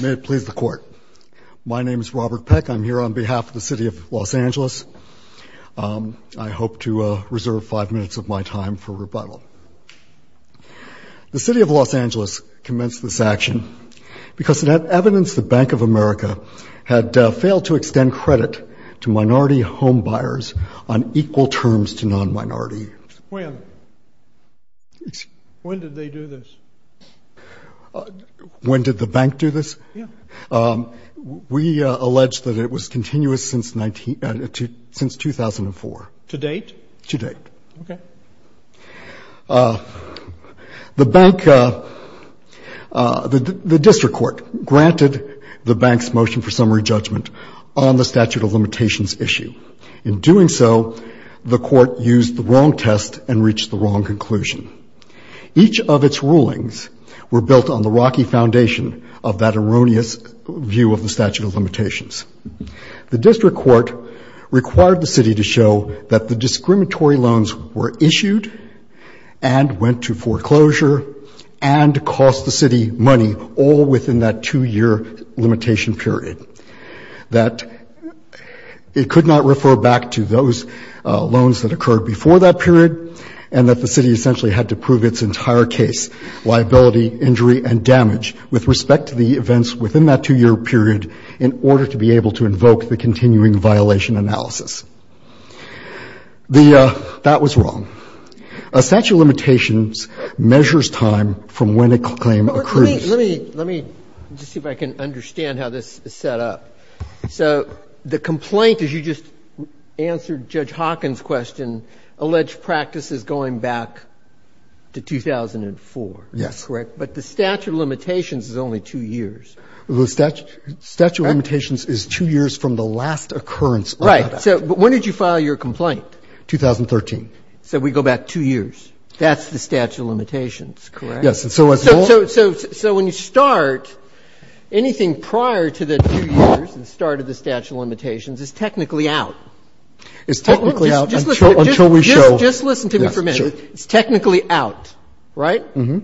May it please the court. My name is Robert Peck. I'm here on behalf of the City of Los Angeles. I hope to reserve five minutes of my time for rebuttal. The City of Los Angeles commenced this action because it had evidenced the Bank of America had failed to extend credit to minority home buyers on equal terms to non-minority. When? When did they do this? When did the bank do this? Yeah. We allege that it was continuous since 2004. To date? To date. Okay. The bank, the district court granted the bank's motion for summary judgment on the statute of limitations issue. In doing so, the court used the wrong test and reached the wrong conclusion. Each of its rulings were built on the rocky foundation of that erroneous view of the statute of limitations. The district court required the city to show that the discriminatory loans were issued and went to foreclosure and cost the city money all within that two-year limitation period. That it could not refer back to those loans that occurred before that period, and that the city essentially had to prove its entire case, liability, injury, and damage with respect to the events within that two-year period in order to be able to invoke the continuing violation analysis. That was wrong. A statute of limitations measures time from when a claim occurs. Let me just see if I can understand how this is set up. So the complaint, as you just answered Judge Hawkins' question, alleged practice is going back to 2004. Yes. Correct? But the statute of limitations is only two years. The statute of limitations is two years from the last occurrence. Right. So when did you file your complaint? 2013. So we go back two years. That's the statute of limitations, correct? Yes. So when you start, anything prior to the two years and the start of the statute of limitations is technically out. It's technically out until we show. Just listen to me for a minute. It's technically out, right? Uh-huh.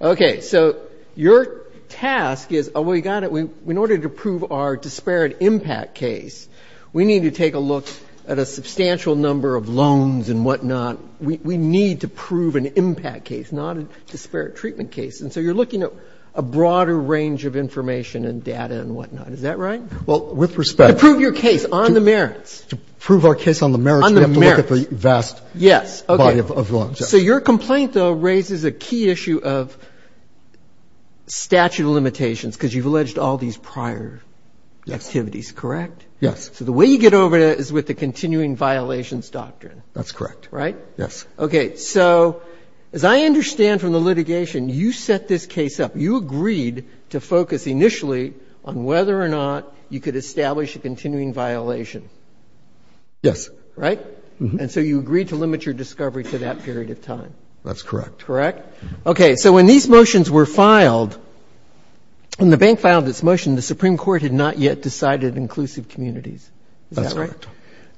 Okay. So your task is, oh, we got it. In order to prove our disparate impact case, we need to take a look at a substantial number of loans and whatnot. We need to prove an impact case, not a disparate treatment case. And so you're looking at a broader range of information and data and whatnot. Is that right? Well, with respect to prove your case on the merits. To prove our case on the merits, we have to look at the vast body of loans. Yes. Okay. So your complaint, though, raises a key issue of statute of limitations because you've alleged all these prior activities. Correct? Yes. So the way you get over it is with the continuing violations doctrine. That's correct. Right? Yes. Okay. So as I understand from the litigation, you set this case up. You agreed to focus initially on whether or not you could establish a continuing violation. Yes. Right? Uh-huh. And so you agreed to limit your discovery to that period of time. That's correct. Correct? Okay. So when these motions were filed, when the bank filed this motion, the Supreme Court had not yet decided inclusive communities. Is that right? That's correct.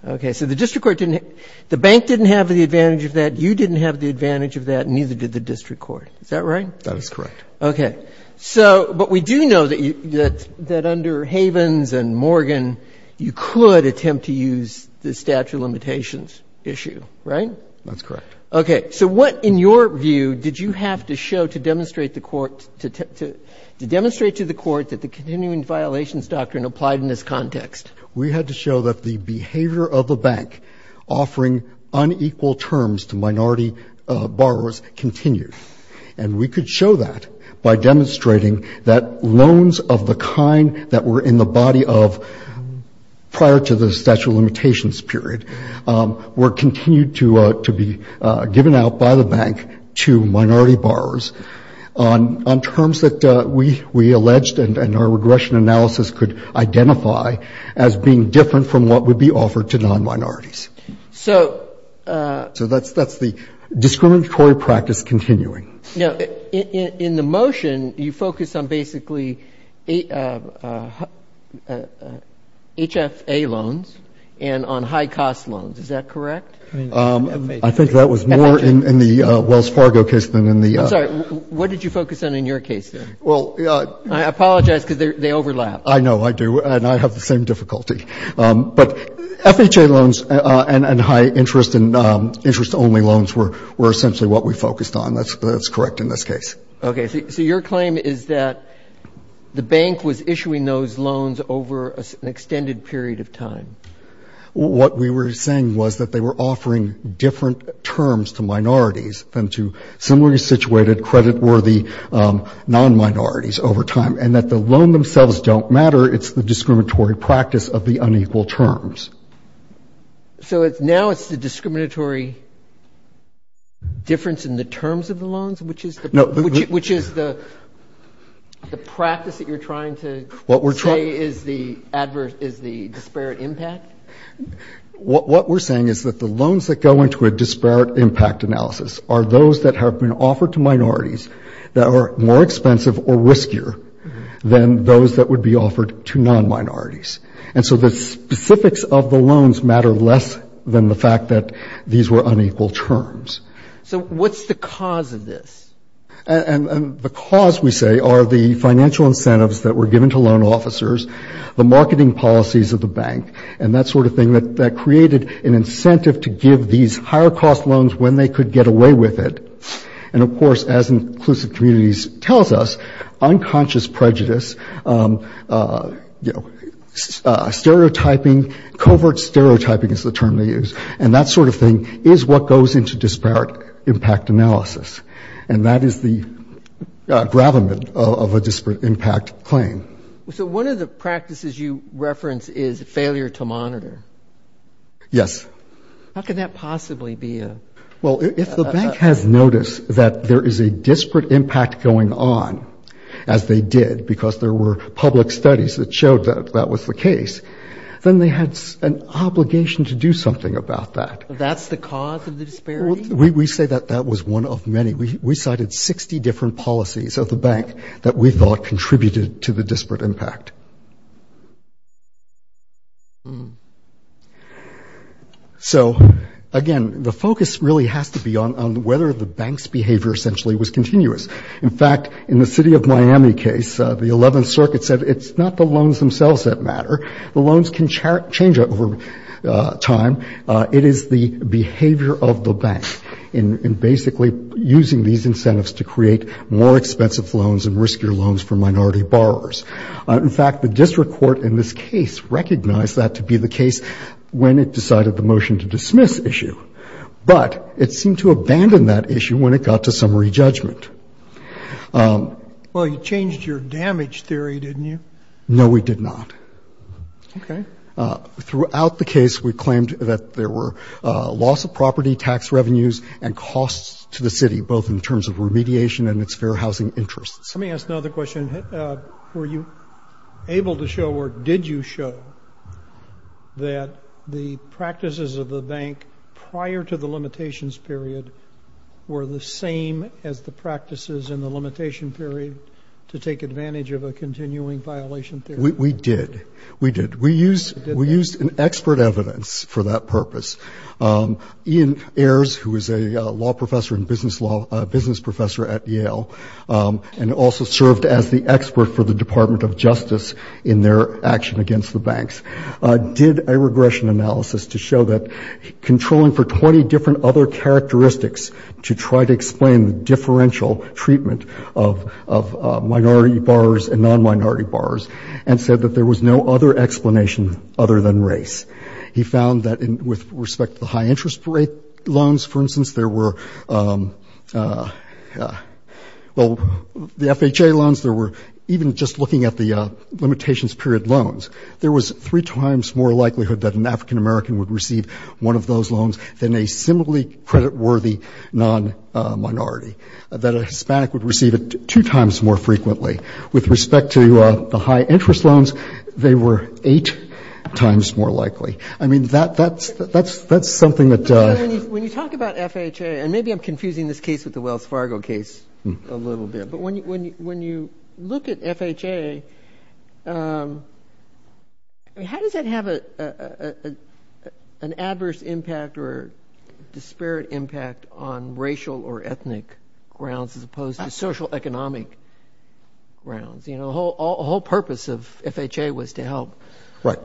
Okay. So the district court didn't — the bank didn't have the advantage of that, you didn't have the advantage of that, and neither did the district court. Is that right? That is correct. Okay. So — but we do know that under Havens and Morgan, you could attempt to use the statute of limitations issue. Right? That's correct. Okay. So what, in your view, did you have to show to demonstrate to the court that the continuing violations doctrine applied in this context? We had to show that the behavior of the bank offering unequal terms to minority borrowers continued. And we could show that by demonstrating that loans of the kind that were in the body of prior to the statute of limitations period were continued to be given out by the bank to minority borrowers on terms that we alleged and our regression analysis could identify as being different from what would be offered to non-minorities. So — So that's the discriminatory practice continuing. Now, in the motion, you focus on basically HFA loans and on high-cost loans. Is that correct? I think that was more in the Wells Fargo case than in the — I'm sorry. What did you focus on in your case there? Well — I apologize because they overlap. I know. I do. And I have the same difficulty. But FHA loans and high-interest and interest-only loans were essentially what we focused on. That's correct in this case. Okay. So your claim is that the bank was issuing those loans over an extended period of time. What we were saying was that they were offering different terms to minorities than to similarly situated, credit-worthy non-minorities over time, and that the loan themselves don't matter. It's the discriminatory practice of the unequal terms. So now it's the discriminatory difference in the terms of the loans, which is the — No. — which is the practice that you're trying to — What we're trying —— say is the disparate impact? What we're saying is that the loans that go into a disparate impact analysis are those that have been offered to minorities that are more expensive or riskier than those that would be offered to non-minorities. And so the specifics of the loans matter less than the fact that these were unequal terms. So what's the cause of this? And the cause, we say, are the financial incentives that were given to loan officers, the marketing policies of the bank, and that sort of thing that created an incentive to give these higher-cost loans when they could get away with it. And, of course, as Inclusive Communities tells us, unconscious prejudice, you know, stereotyping — covert stereotyping is the term they use. And that sort of thing is what goes into disparate impact analysis. And that is the gravamen of a disparate impact claim. So one of the practices you reference is failure to monitor. Yes. How could that possibly be a — Well, if the bank has noticed that there is a disparate impact going on, as they did because there were public studies that showed that that was the case, then they had an obligation to do something about that. That's the cause of the disparity? We say that that was one of many. We cited 60 different policies of the bank that we thought contributed to the disparate impact. So, again, the focus really has to be on whether the bank's behavior essentially was continuous. In fact, in the city of Miami case, the 11th Circuit said it's not the loans themselves that matter. The loans can change over time. It is the behavior of the bank in basically using these incentives to create more expensive loans and riskier loans for minority borrowers. In fact, the district court in this case recognized that to be the case when it decided the motion to dismiss issue. But it seemed to abandon that issue when it got to summary judgment. Well, you changed your damage theory, didn't you? No, we did not. Okay. Throughout the case, we claimed that there were loss of property, tax revenues, and costs to the city, both in terms of remediation and its fair housing interests. Let me ask another question. Were you able to show or did you show that the practices of the bank prior to the limitations period were the same as the practices in the limitation period to take advantage of a continuing violation theory? We did. We did. We used an expert evidence for that purpose. Ian Ayers, who is a law professor and business professor at Yale and also served as the expert for the Department of Justice in their action against the banks, did a regression analysis to show that controlling for 20 different other characteristics to try to explain the other than race. He found that with respect to the high interest rate loans, for instance, there were the FHA loans, there were even just looking at the limitations period loans, there was three times more likelihood that an African American would receive one of those loans than a similarly creditworthy non-minority, that a Hispanic would receive it two times more frequently. With respect to the high interest loans, they were eight times more likely. I mean, that's something that... When you talk about FHA, and maybe I'm confusing this case with the Wells Fargo case a little bit, but when you look at FHA, I mean, how does that have an adverse impact or disparate impact on racial or ethnic grounds as opposed to social economic grounds? You know, the whole purpose of FHA was to help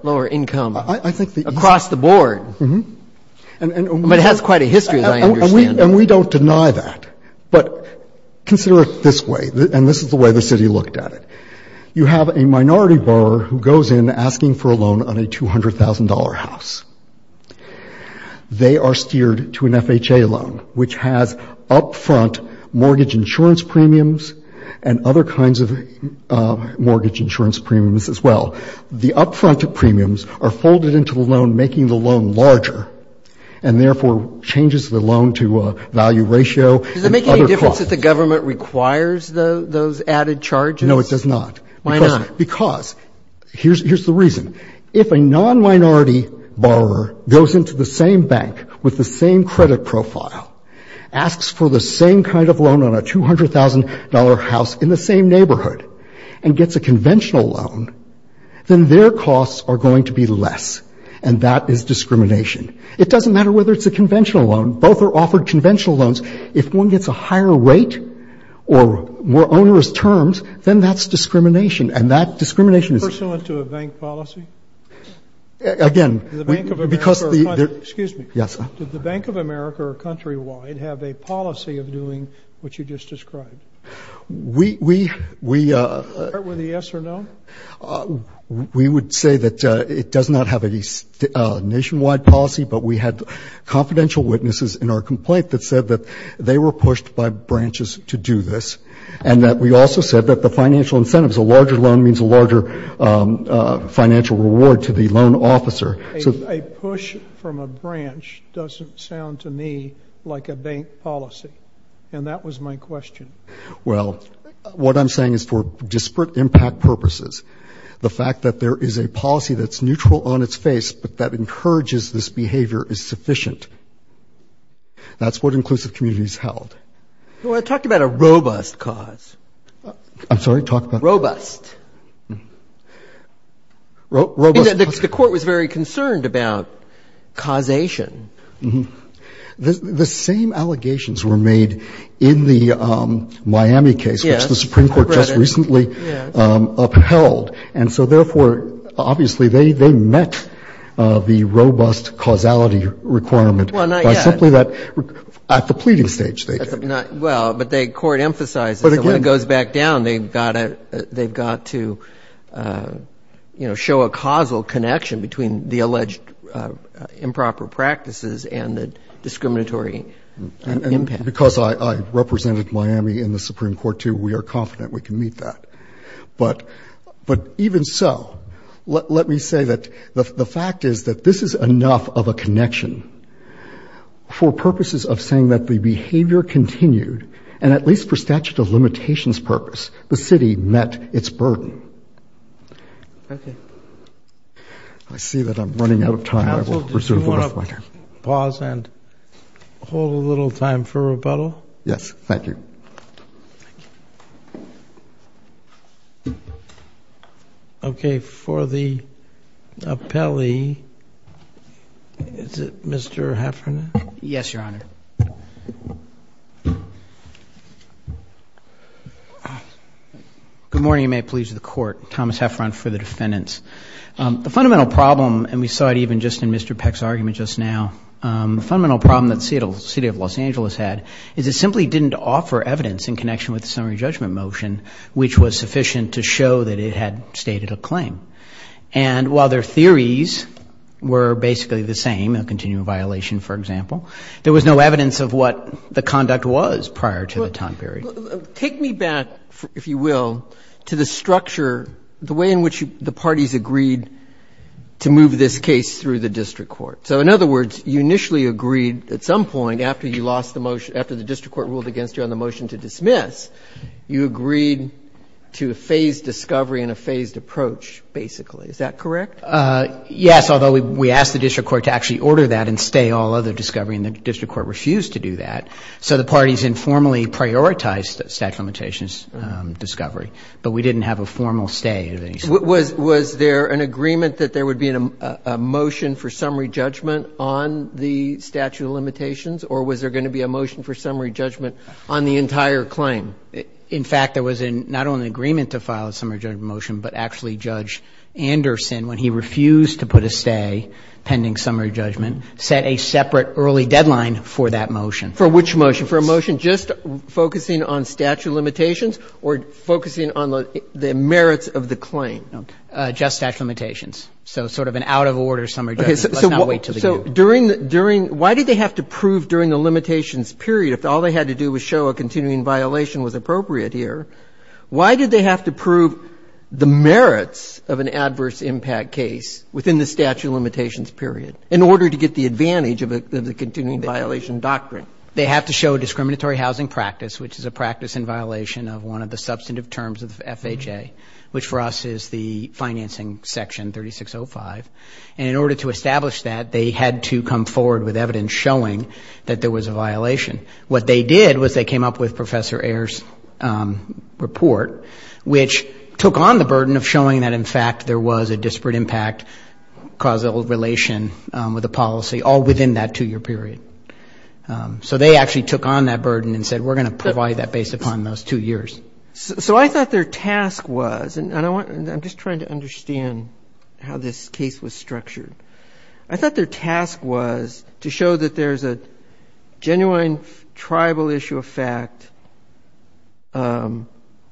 lower income across the board. But it has quite a history, as I understand it. And we don't deny that. But consider it this way, and this is the way the city looked at it. You have a minority borrower who goes in asking for a loan on a $200,000 house. They are steered to an FHA loan, which has up-front mortgage insurance premiums and other kinds of mortgage insurance premiums as well. The up-front premiums are folded into the loan, making the loan larger, and therefore changes the loan to a value ratio and other costs. Does it make any difference if the government requires those added charges? No, it does not. Why not? Because, here's the reason. If a non-minority borrower goes into the same bank with the same credit profile, asks for the same kind of loan on a $200,000 house in the same neighborhood, and gets a conventional loan, then their costs are going to be less, and that is discrimination. It doesn't matter whether it's a conventional loan. Both are offered conventional loans. If one gets a higher rate or more onerous terms, then that's discrimination, and that discrimination is ---- Pursuant to a bank policy? Again, because the ---- Excuse me. Yes. Did the Bank of America or Countrywide have a policy of doing what you just described? We, we, we ---- Part with a yes or no? We would say that it does not have any nationwide policy, but we had confidential witnesses in our complaint that said that they were pushed by branches to do this, and that we also said that the financial incentives, a larger loan means a larger financial reward to the loan officer. A push from a branch doesn't sound to me like a bank policy, and that was my question. Well, what I'm saying is for disparate impact purposes, the fact that there is a policy that's neutral on its face but that encourages this behavior is sufficient. That's what inclusive communities held. Well, I talked about a robust cause. I'm sorry? Talk about ---- Robust. The Court was very concerned about causation. The same allegations were made in the Miami case, which the Supreme Court just recently upheld, and so therefore, obviously, they met the robust causality requirement by simply that ---- Well, not yet. At the pleading stage, they did. Well, but the Court emphasized that when it goes back down, they've got to, you know, show a causal connection between the alleged improper practices and the discriminatory impact. And because I represented Miami in the Supreme Court, too, we are confident we can meet that. But even so, let me say that the fact is that this is enough of a connection for purposes of saying that the behavior continued, and at least for statute of limitations purpose, the city met its burden. Okay. I see that I'm running out of time. Do you want to pause and hold a little time for rebuttal? Yes. Thank you. Thank you. Okay. For the appellee, is it Mr. Heffernan? Yes, Your Honor. Good morning, and may it please the Court. Thomas Heffernan for the defendants. The fundamental problem, and we saw it even just in Mr. Peck's argument just now, the fundamental problem that the City of Los Angeles had is it simply didn't offer evidence in connection with the summary judgment motion, which was sufficient to show that it had stated a claim. And while their theories were basically the same, a continuing violation, for example, there was no evidence of what the conduct was prior to the time period. Well, take me back, if you will, to the structure, the way in which the parties agreed to move this case through the district court. So in other words, you initially agreed at some point after you lost the motion, after the district court ruled against you on the motion to dismiss, you agreed to a phased discovery and a phased approach, basically. Is that correct? Yes, although we asked the district court to actually order that and stay all other discovery, and the district court refused to do that. So the parties informally prioritized the statute of limitations discovery, but we didn't have a formal stay of any sort. Was there an agreement that there would be a motion for summary judgment on the statute of limitations, or was there going to be a motion for summary judgment on the entire claim? In fact, there was not only an agreement to file a summary judgment motion, but actually Judge Anderson, when he refused to put a stay pending summary judgment, set a separate early deadline for that motion. For which motion? For a motion just focusing on statute of limitations or focusing on the merits of the claim? Just statute of limitations. So sort of an out-of-order summary judgment. Let's not wait until the due. So during the ‑‑ why did they have to prove during the limitations period, if all they had to do was show a continuing violation was appropriate here, why did they have to prove the merits of an adverse impact case within the statute of limitations period in order to get the advantage of the continuing violation doctrine? They have to show discriminatory housing practice, which is a practice in violation of one of the substantive terms of FHA, which for us is the financing section, 3605. And in order to establish that, they had to come forward with evidence showing that there was a violation. What they did was they came up with Professor Ayer's report, which took on the burden of showing that, in fact, there was a disparate impact causal relation with the policy, all within that two‑year period. So they actually took on that burden and said, we're going to provide that based upon those two years. So I thought their task was, and I'm just trying to understand how this case was structured, I thought their task was to show that there's a genuine tribal issue of fact on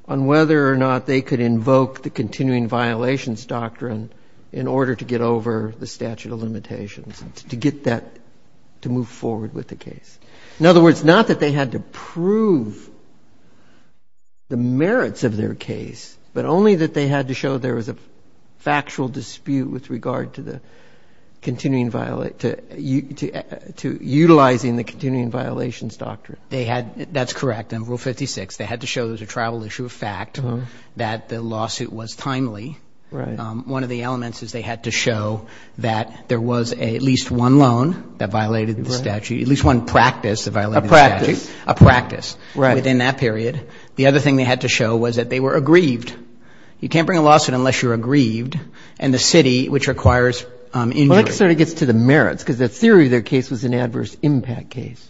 whether or not they could invoke the continuing violations doctrine in order to move forward with the case. In other words, not that they had to prove the merits of their case, but only that they had to show there was a factual dispute with regard to the continuing violation, to utilizing the continuing violations doctrine. They had, that's correct, in Rule 56, they had to show there was a tribal issue of fact, that the lawsuit was timely. Right. One of the elements is they had to show that there was at least one loan that violated the statute, at least one practice that violated the statute. A practice. A practice. Right. Within that period. The other thing they had to show was that they were aggrieved. You can't bring a lawsuit unless you're aggrieved, and the city, which requires injury. Well, that sort of gets to the merits, because the theory of their case was an adverse impact case.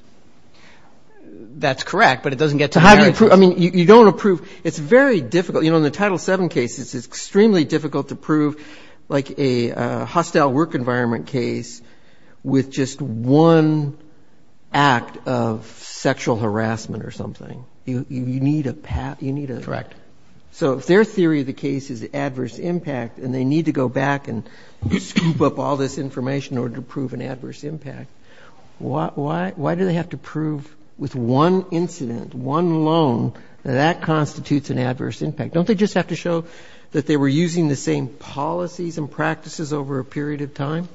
That's correct, but it doesn't get to the merits. So how do you prove, I mean, you don't approve, it's very difficult. You know, in the Title VII case, it's extremely difficult to prove like a hostile work environment case with just one act of sexual harassment or something. You need a path, you need a... Correct. So if their theory of the case is adverse impact and they need to go back and scoop up all this information in order to prove an adverse impact, why do they have to prove with one incident, one loan that that constitutes an adverse impact? Don't they just have to show that they were using the same policies and practices over a period of time?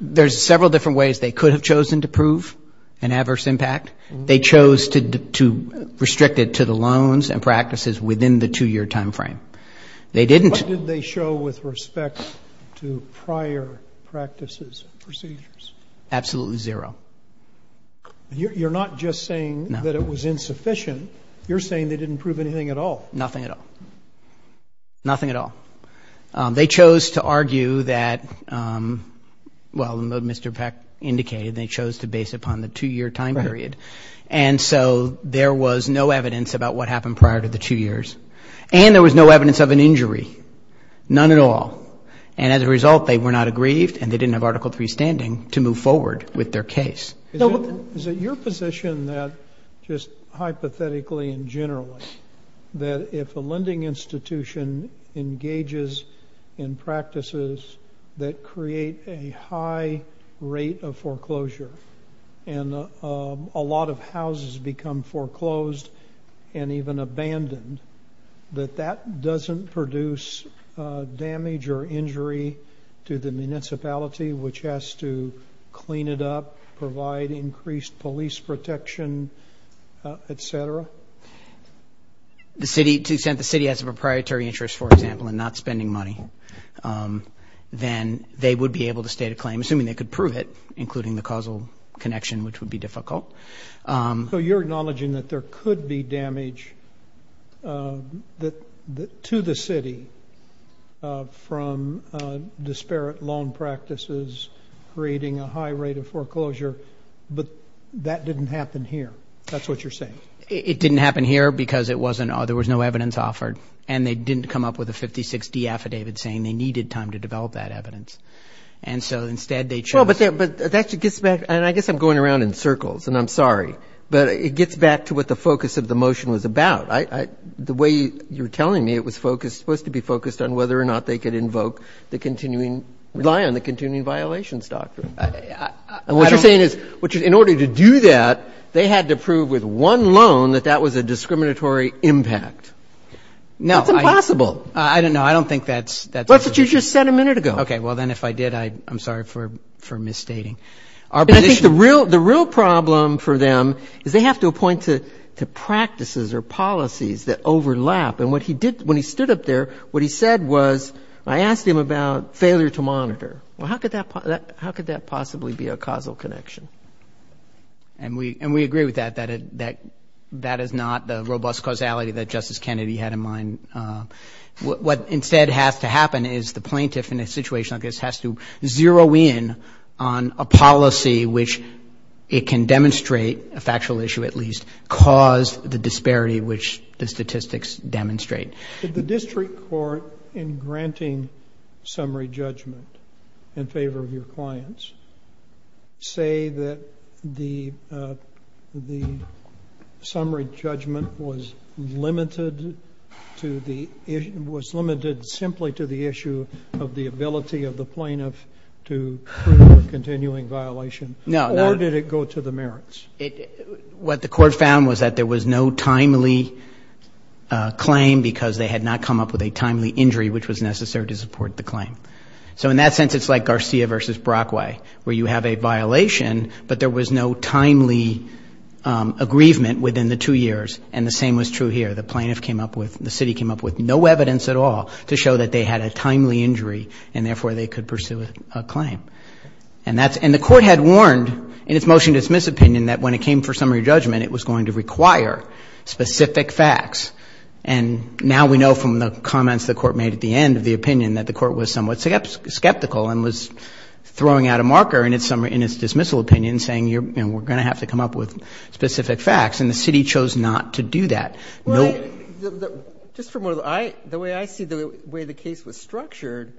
There's several different ways they could have chosen to prove an adverse impact. They chose to restrict it to the loans and practices within the two-year time frame. They didn't... What did they show with respect to prior practices and procedures? Absolutely zero. You're not just saying that it was insufficient. You're saying they didn't prove anything at all. Nothing at all. Nothing at all. They chose to argue that, well, Mr. Peck indicated, they chose to base it upon the two-year time period. Right. And so there was no evidence about what happened prior to the two years and there was no evidence of an injury, none at all. And as a result, they were not aggrieved and they didn't have Article III standing to move forward with their case. Is it your position that just hypothetically and generally that if a lending institution engages in practices that create a high rate of foreclosure and a lot of houses become foreclosed and even abandoned, that that doesn't produce damage or injury to the municipality which has to clean it up, provide increased police protection, et cetera? To the extent the city has a proprietary interest, for example, in not spending money, then they would be able to state a claim, assuming they could prove it, including the causal connection, which would be difficult. So you're acknowledging that there could be damage to the city from disparate loan practices creating a high rate of foreclosure, but that didn't happen here. That's what you're saying. It didn't happen here because there was no evidence offered and they didn't come up with a 56D affidavit saying they needed time to develop that evidence. And so instead they chose to. But that gets back, and I guess I'm going around in circles and I'm sorry, but it gets back to what the focus of the motion was about. The way you're telling me it was supposed to be focused on whether or not they could rely on the continuing violations doctrine. And what you're saying is in order to do that, they had to prove with one loan that that was a discriminatory impact. That's impossible. I don't know. I don't think that's. That's what you just said a minute ago. Okay. Well, then if I did, I'm sorry for misstating. The real problem for them is they have to appoint to practices or policies that overlap. And what he did when he stood up there, what he said was, I asked him about failure to monitor. Well, how could that possibly be a causal connection? And we agree with that, that that is not the robust causality that Justice Kennedy had in mind. What instead has to happen is the plaintiff in a situation like this has to zero in on a policy which it can demonstrate, a factual issue at least, cause the disparity which the statistics demonstrate. Did the district court in granting summary judgment in favor of your clients say that the summary judgment was limited to the issue, was limited simply to the issue of the ability of the plaintiff to prove a continuing violation? No. Or did it go to the merits? What the court found was that there was no timely claim because they had not come up with a timely injury which was necessary to support the claim. So in that sense, it's like Garcia v. Brockway, where you have a violation but there was no timely aggrievement within the two years. And the same was true here. The city came up with no evidence at all to show that they had a timely injury and therefore they could pursue a claim. And the court had warned in its motion to dismiss opinion that when it came for summary judgment, it was going to require specific facts. And now we know from the comments the court made at the end of the opinion that the court was somewhat skeptical and was throwing out a marker in its dismissal opinion saying we're going to have to come up with specific facts. And the city chose not to do that. Just from the way I see the way the case was structured,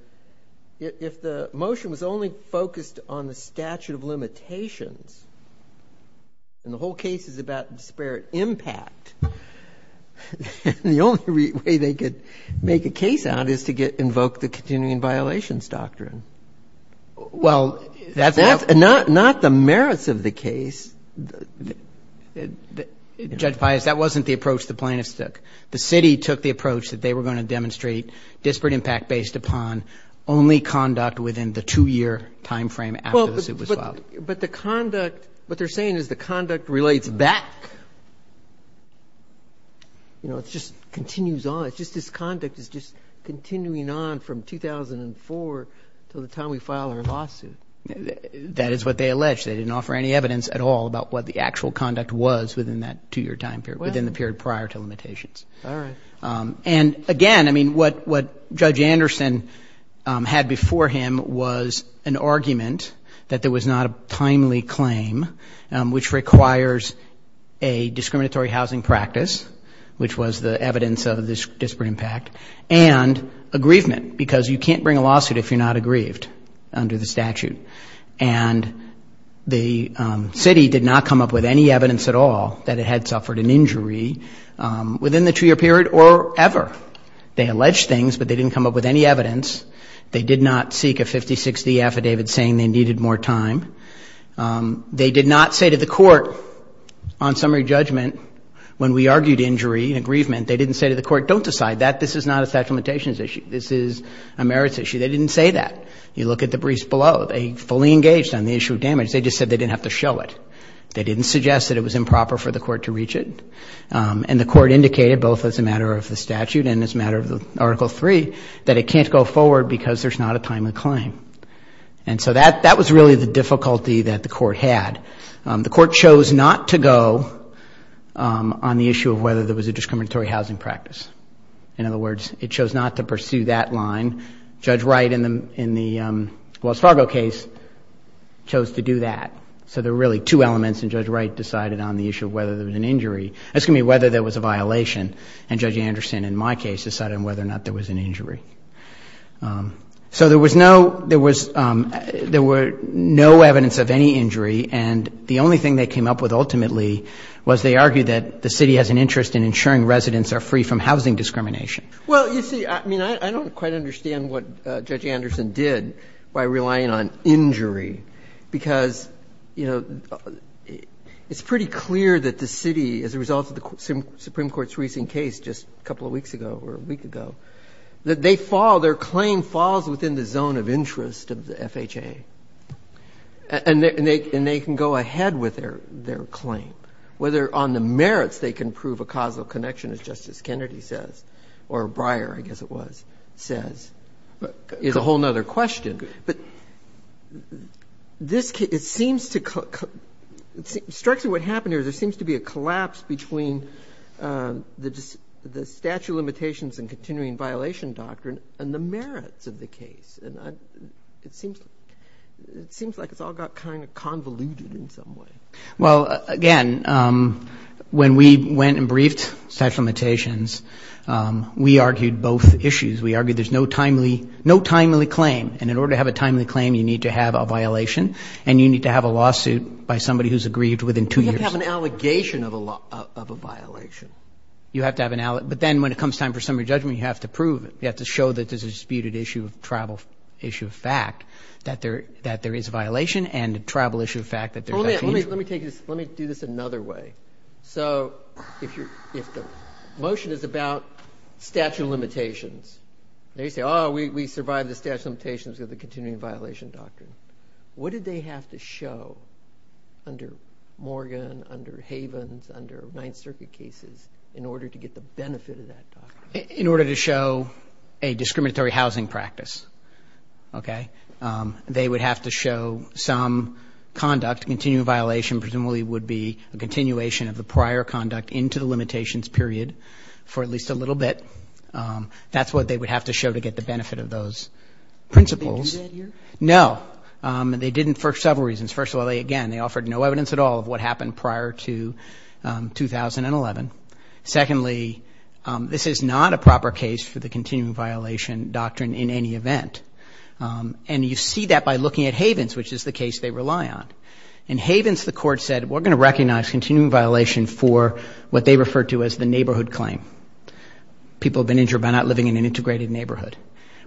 if the motion was only focused on the statute of limitations and the whole case is about disparate impact, the only way they could make a case out is to invoke the continuing violations doctrine. Well, that's not the merits of the case. Judge Pius, that wasn't the approach the plaintiffs took. The city took the approach that they were going to demonstrate disparate impact based upon only conduct within the two-year timeframe after the suit was filed. But the conduct, what they're saying is the conduct relates back. You know, it just continues on. It's just this conduct is just continuing on from 2004 until the time we file our lawsuit. That is what they allege. They didn't offer any evidence at all about what the actual conduct was within that two-year time period, within the period prior to limitations. All right. And, again, I mean, what Judge Anderson had before him was an argument that there was not a timely claim, which requires a discriminatory housing practice, which was the evidence of this disparate impact, and aggrievement because you can't bring a lawsuit if you're not aggrieved under the statute. And the city did not come up with any evidence at all that it had suffered an injury within the two-year period or ever. They alleged things, but they didn't come up with any evidence. They did not seek a 50-60 affidavit saying they needed more time. They did not say to the court on summary judgment when we argued injury and aggrievement, they didn't say to the court, don't decide that. This is not a statute of limitations issue. This is a merits issue. They didn't say that. You look at the briefs below. They fully engaged on the issue of damage. They just said they didn't have to show it. They didn't suggest that it was improper for the court to reach it. And the court indicated, both as a matter of the statute and as a matter of Article III, that it can't go forward because there's not a timely claim. And so that was really the difficulty that the court had. The court chose not to go on the issue of whether there was a discriminatory housing practice. In other words, it chose not to pursue that line. And Judge Wright, in the Wells Fargo case, chose to do that. So there were really two elements, and Judge Wright decided on the issue of whether there was an injury. That's going to be whether there was a violation. And Judge Anderson, in my case, decided on whether or not there was an injury. So there was no evidence of any injury, and the only thing they came up with ultimately was they argued that the city has an interest in ensuring residents are free from housing discrimination. Well, you see, I mean, I don't quite understand what Judge Anderson did by relying on injury, because, you know, it's pretty clear that the city, as a result of the Supreme Court's recent case just a couple of weeks ago or a week ago, that they fall, their claim falls within the zone of interest of the FHA. And they can go ahead with their claim, whether on the merits they can prove a causal connection, as Justice Kennedy says. Or Breyer, I guess it was, says. It's a whole other question. But this seems to – strikes me what happened here is there seems to be a collapse between the statute of limitations and continuing violation doctrine and the merits of the case. And it seems like it's all got kind of convoluted in some way. Well, again, when we went and briefed statute of limitations, we argued both issues. We argued there's no timely claim. And in order to have a timely claim, you need to have a violation, and you need to have a lawsuit by somebody who's aggrieved within two years. You have to have an allegation of a violation. You have to have an allegation. But then when it comes time for summary judgment, you have to prove it. You have to show that there's a disputed issue of travel, issue of fact, that there is a violation and a travel issue of fact that there's a change. Well, let me take this – let me do this another way. So if you're – if the motion is about statute of limitations, and you say, oh, we survived the statute of limitations because of the continuing violation doctrine, what did they have to show under Morgan, under Havens, under Ninth Circuit cases in order to get the benefit of that doctrine? In order to show a discriminatory housing practice, okay? They would have to show some conduct. Continuing violation presumably would be a continuation of the prior conduct into the limitations period for at least a little bit. That's what they would have to show to get the benefit of those principles. Did they do that here? No. They didn't for several reasons. First of all, again, they offered no evidence at all of what happened prior to 2011. Secondly, this is not a proper case for the continuing violation doctrine in any event. And you see that by looking at Havens, which is the case they rely on. In Havens, the court said, we're going to recognize continuing violation for what they refer to as the neighborhood claim. People have been injured by not living in an integrated neighborhood.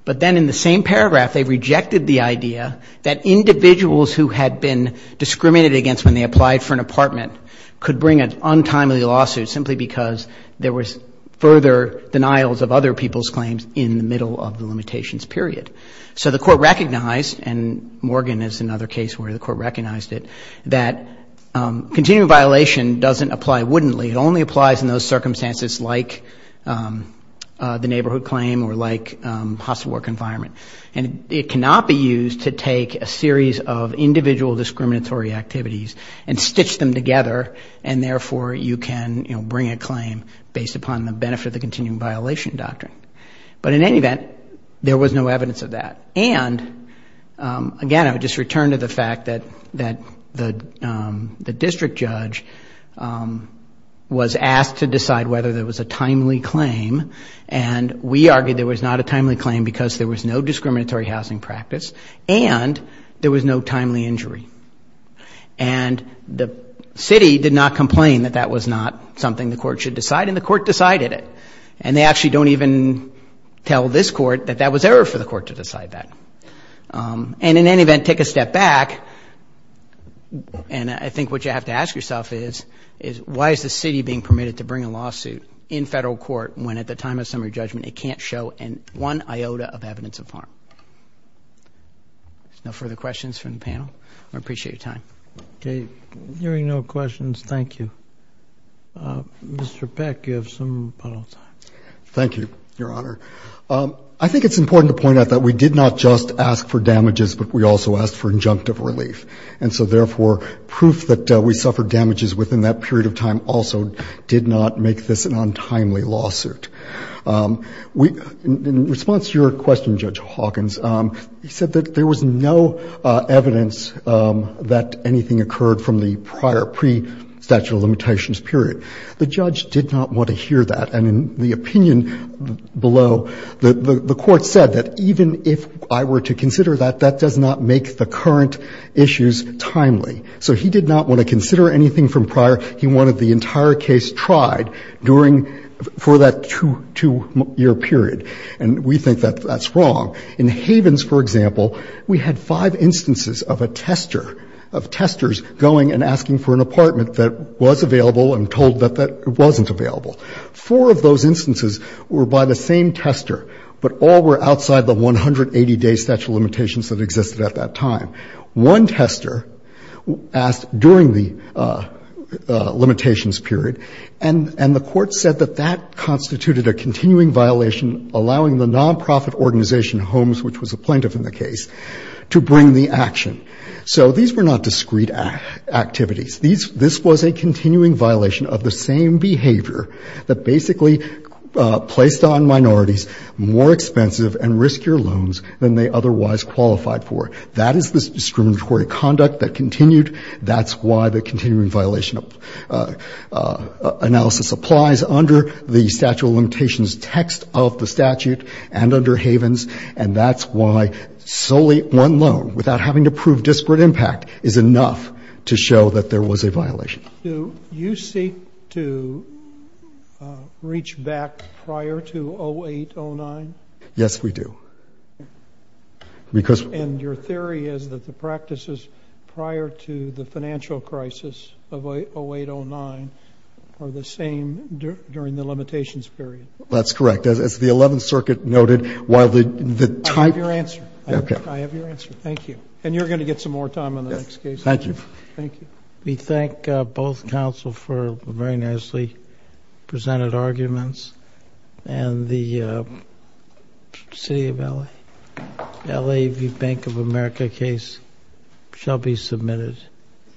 But then in the same paragraph, they rejected the idea that individuals who had been discriminated against when they applied for an apartment could bring an untimely lawsuit simply because there was further denials of other people's claims in the middle of the limitations period. So the court recognized, and Morgan is another case where the court recognized it, that continuing violation doesn't apply wouldn'tly. It only applies in those circumstances like the neighborhood claim or like hostile work environment. And it cannot be used to take a series of individual discriminatory activities and stitch them together and therefore you can bring a claim based upon the benefit of the continuing violation doctrine. But in any event, there was no evidence of that. And again, I would just return to the fact that the district judge was asked to decide whether there was a timely claim. And we argued there was not a timely claim because there was no discriminatory housing practice and there was no timely injury. And the city did not complain that that was not something the court should decide and the court decided it. And they actually don't even tell this court that that was error for the court to decide that. And in any event, take a step back. And I think what you have to ask yourself is why is the city being permitted to bring a lawsuit in federal court when at the time of summary judgment it can't show one iota of evidence of harm? No further questions from the panel? I appreciate your time. Hearing no questions, thank you. Mr. Peck, you have some final thoughts. Thank you, Your Honor. I think it's important to point out that we did not just ask for damages, but we also asked for injunctive relief. And so, therefore, proof that we suffered damages within that period of time also did not make this an untimely lawsuit. In response to your question, Judge Hawkins, you said that there was no evidence that anything occurred from the prior pre-statute of limitations period. The judge did not want to hear that. And in the opinion below, the court said that even if I were to consider that, that does not make the current issues timely. So he did not want to consider anything from prior. He wanted the entire case tried for that two-year period. And we think that that's wrong. In Havens, for example, we had five instances of a tester, of testers going and asking for an apartment that was available and told that it wasn't available. Four of those instances were by the same tester, but all were outside the 180-day statute of limitations that existed at that time. One tester asked during the limitations period, and the court said that that constituted a continuing violation allowing the nonprofit organization Homes, which was a plaintiff in the case, to bring the action. So these were not discrete activities. This was a continuing violation of the same behavior that basically placed on minorities more expensive and riskier loans than they otherwise qualified for. That is the discriminatory conduct that continued. That's why the continuing violation analysis applies under the statute of limitations text of the statute and under Havens. And that's why solely one loan, without having to prove disparate impact, is enough to show that there was a violation. Roberts. Do you seek to reach back prior to 08-09? Yes, we do. And your theory is that the practices prior to the financial crisis of 08-09 are the same during the limitations period? That's correct. As the 11th Circuit noted, while the type of the- I have your answer. Okay. I have your answer. Thank you. And you're going to get some more time on the next case. Yes. Thank you. We thank both counsel for very nicely presented arguments. And the City of L.A., L.A. Bank of America case shall be submitted.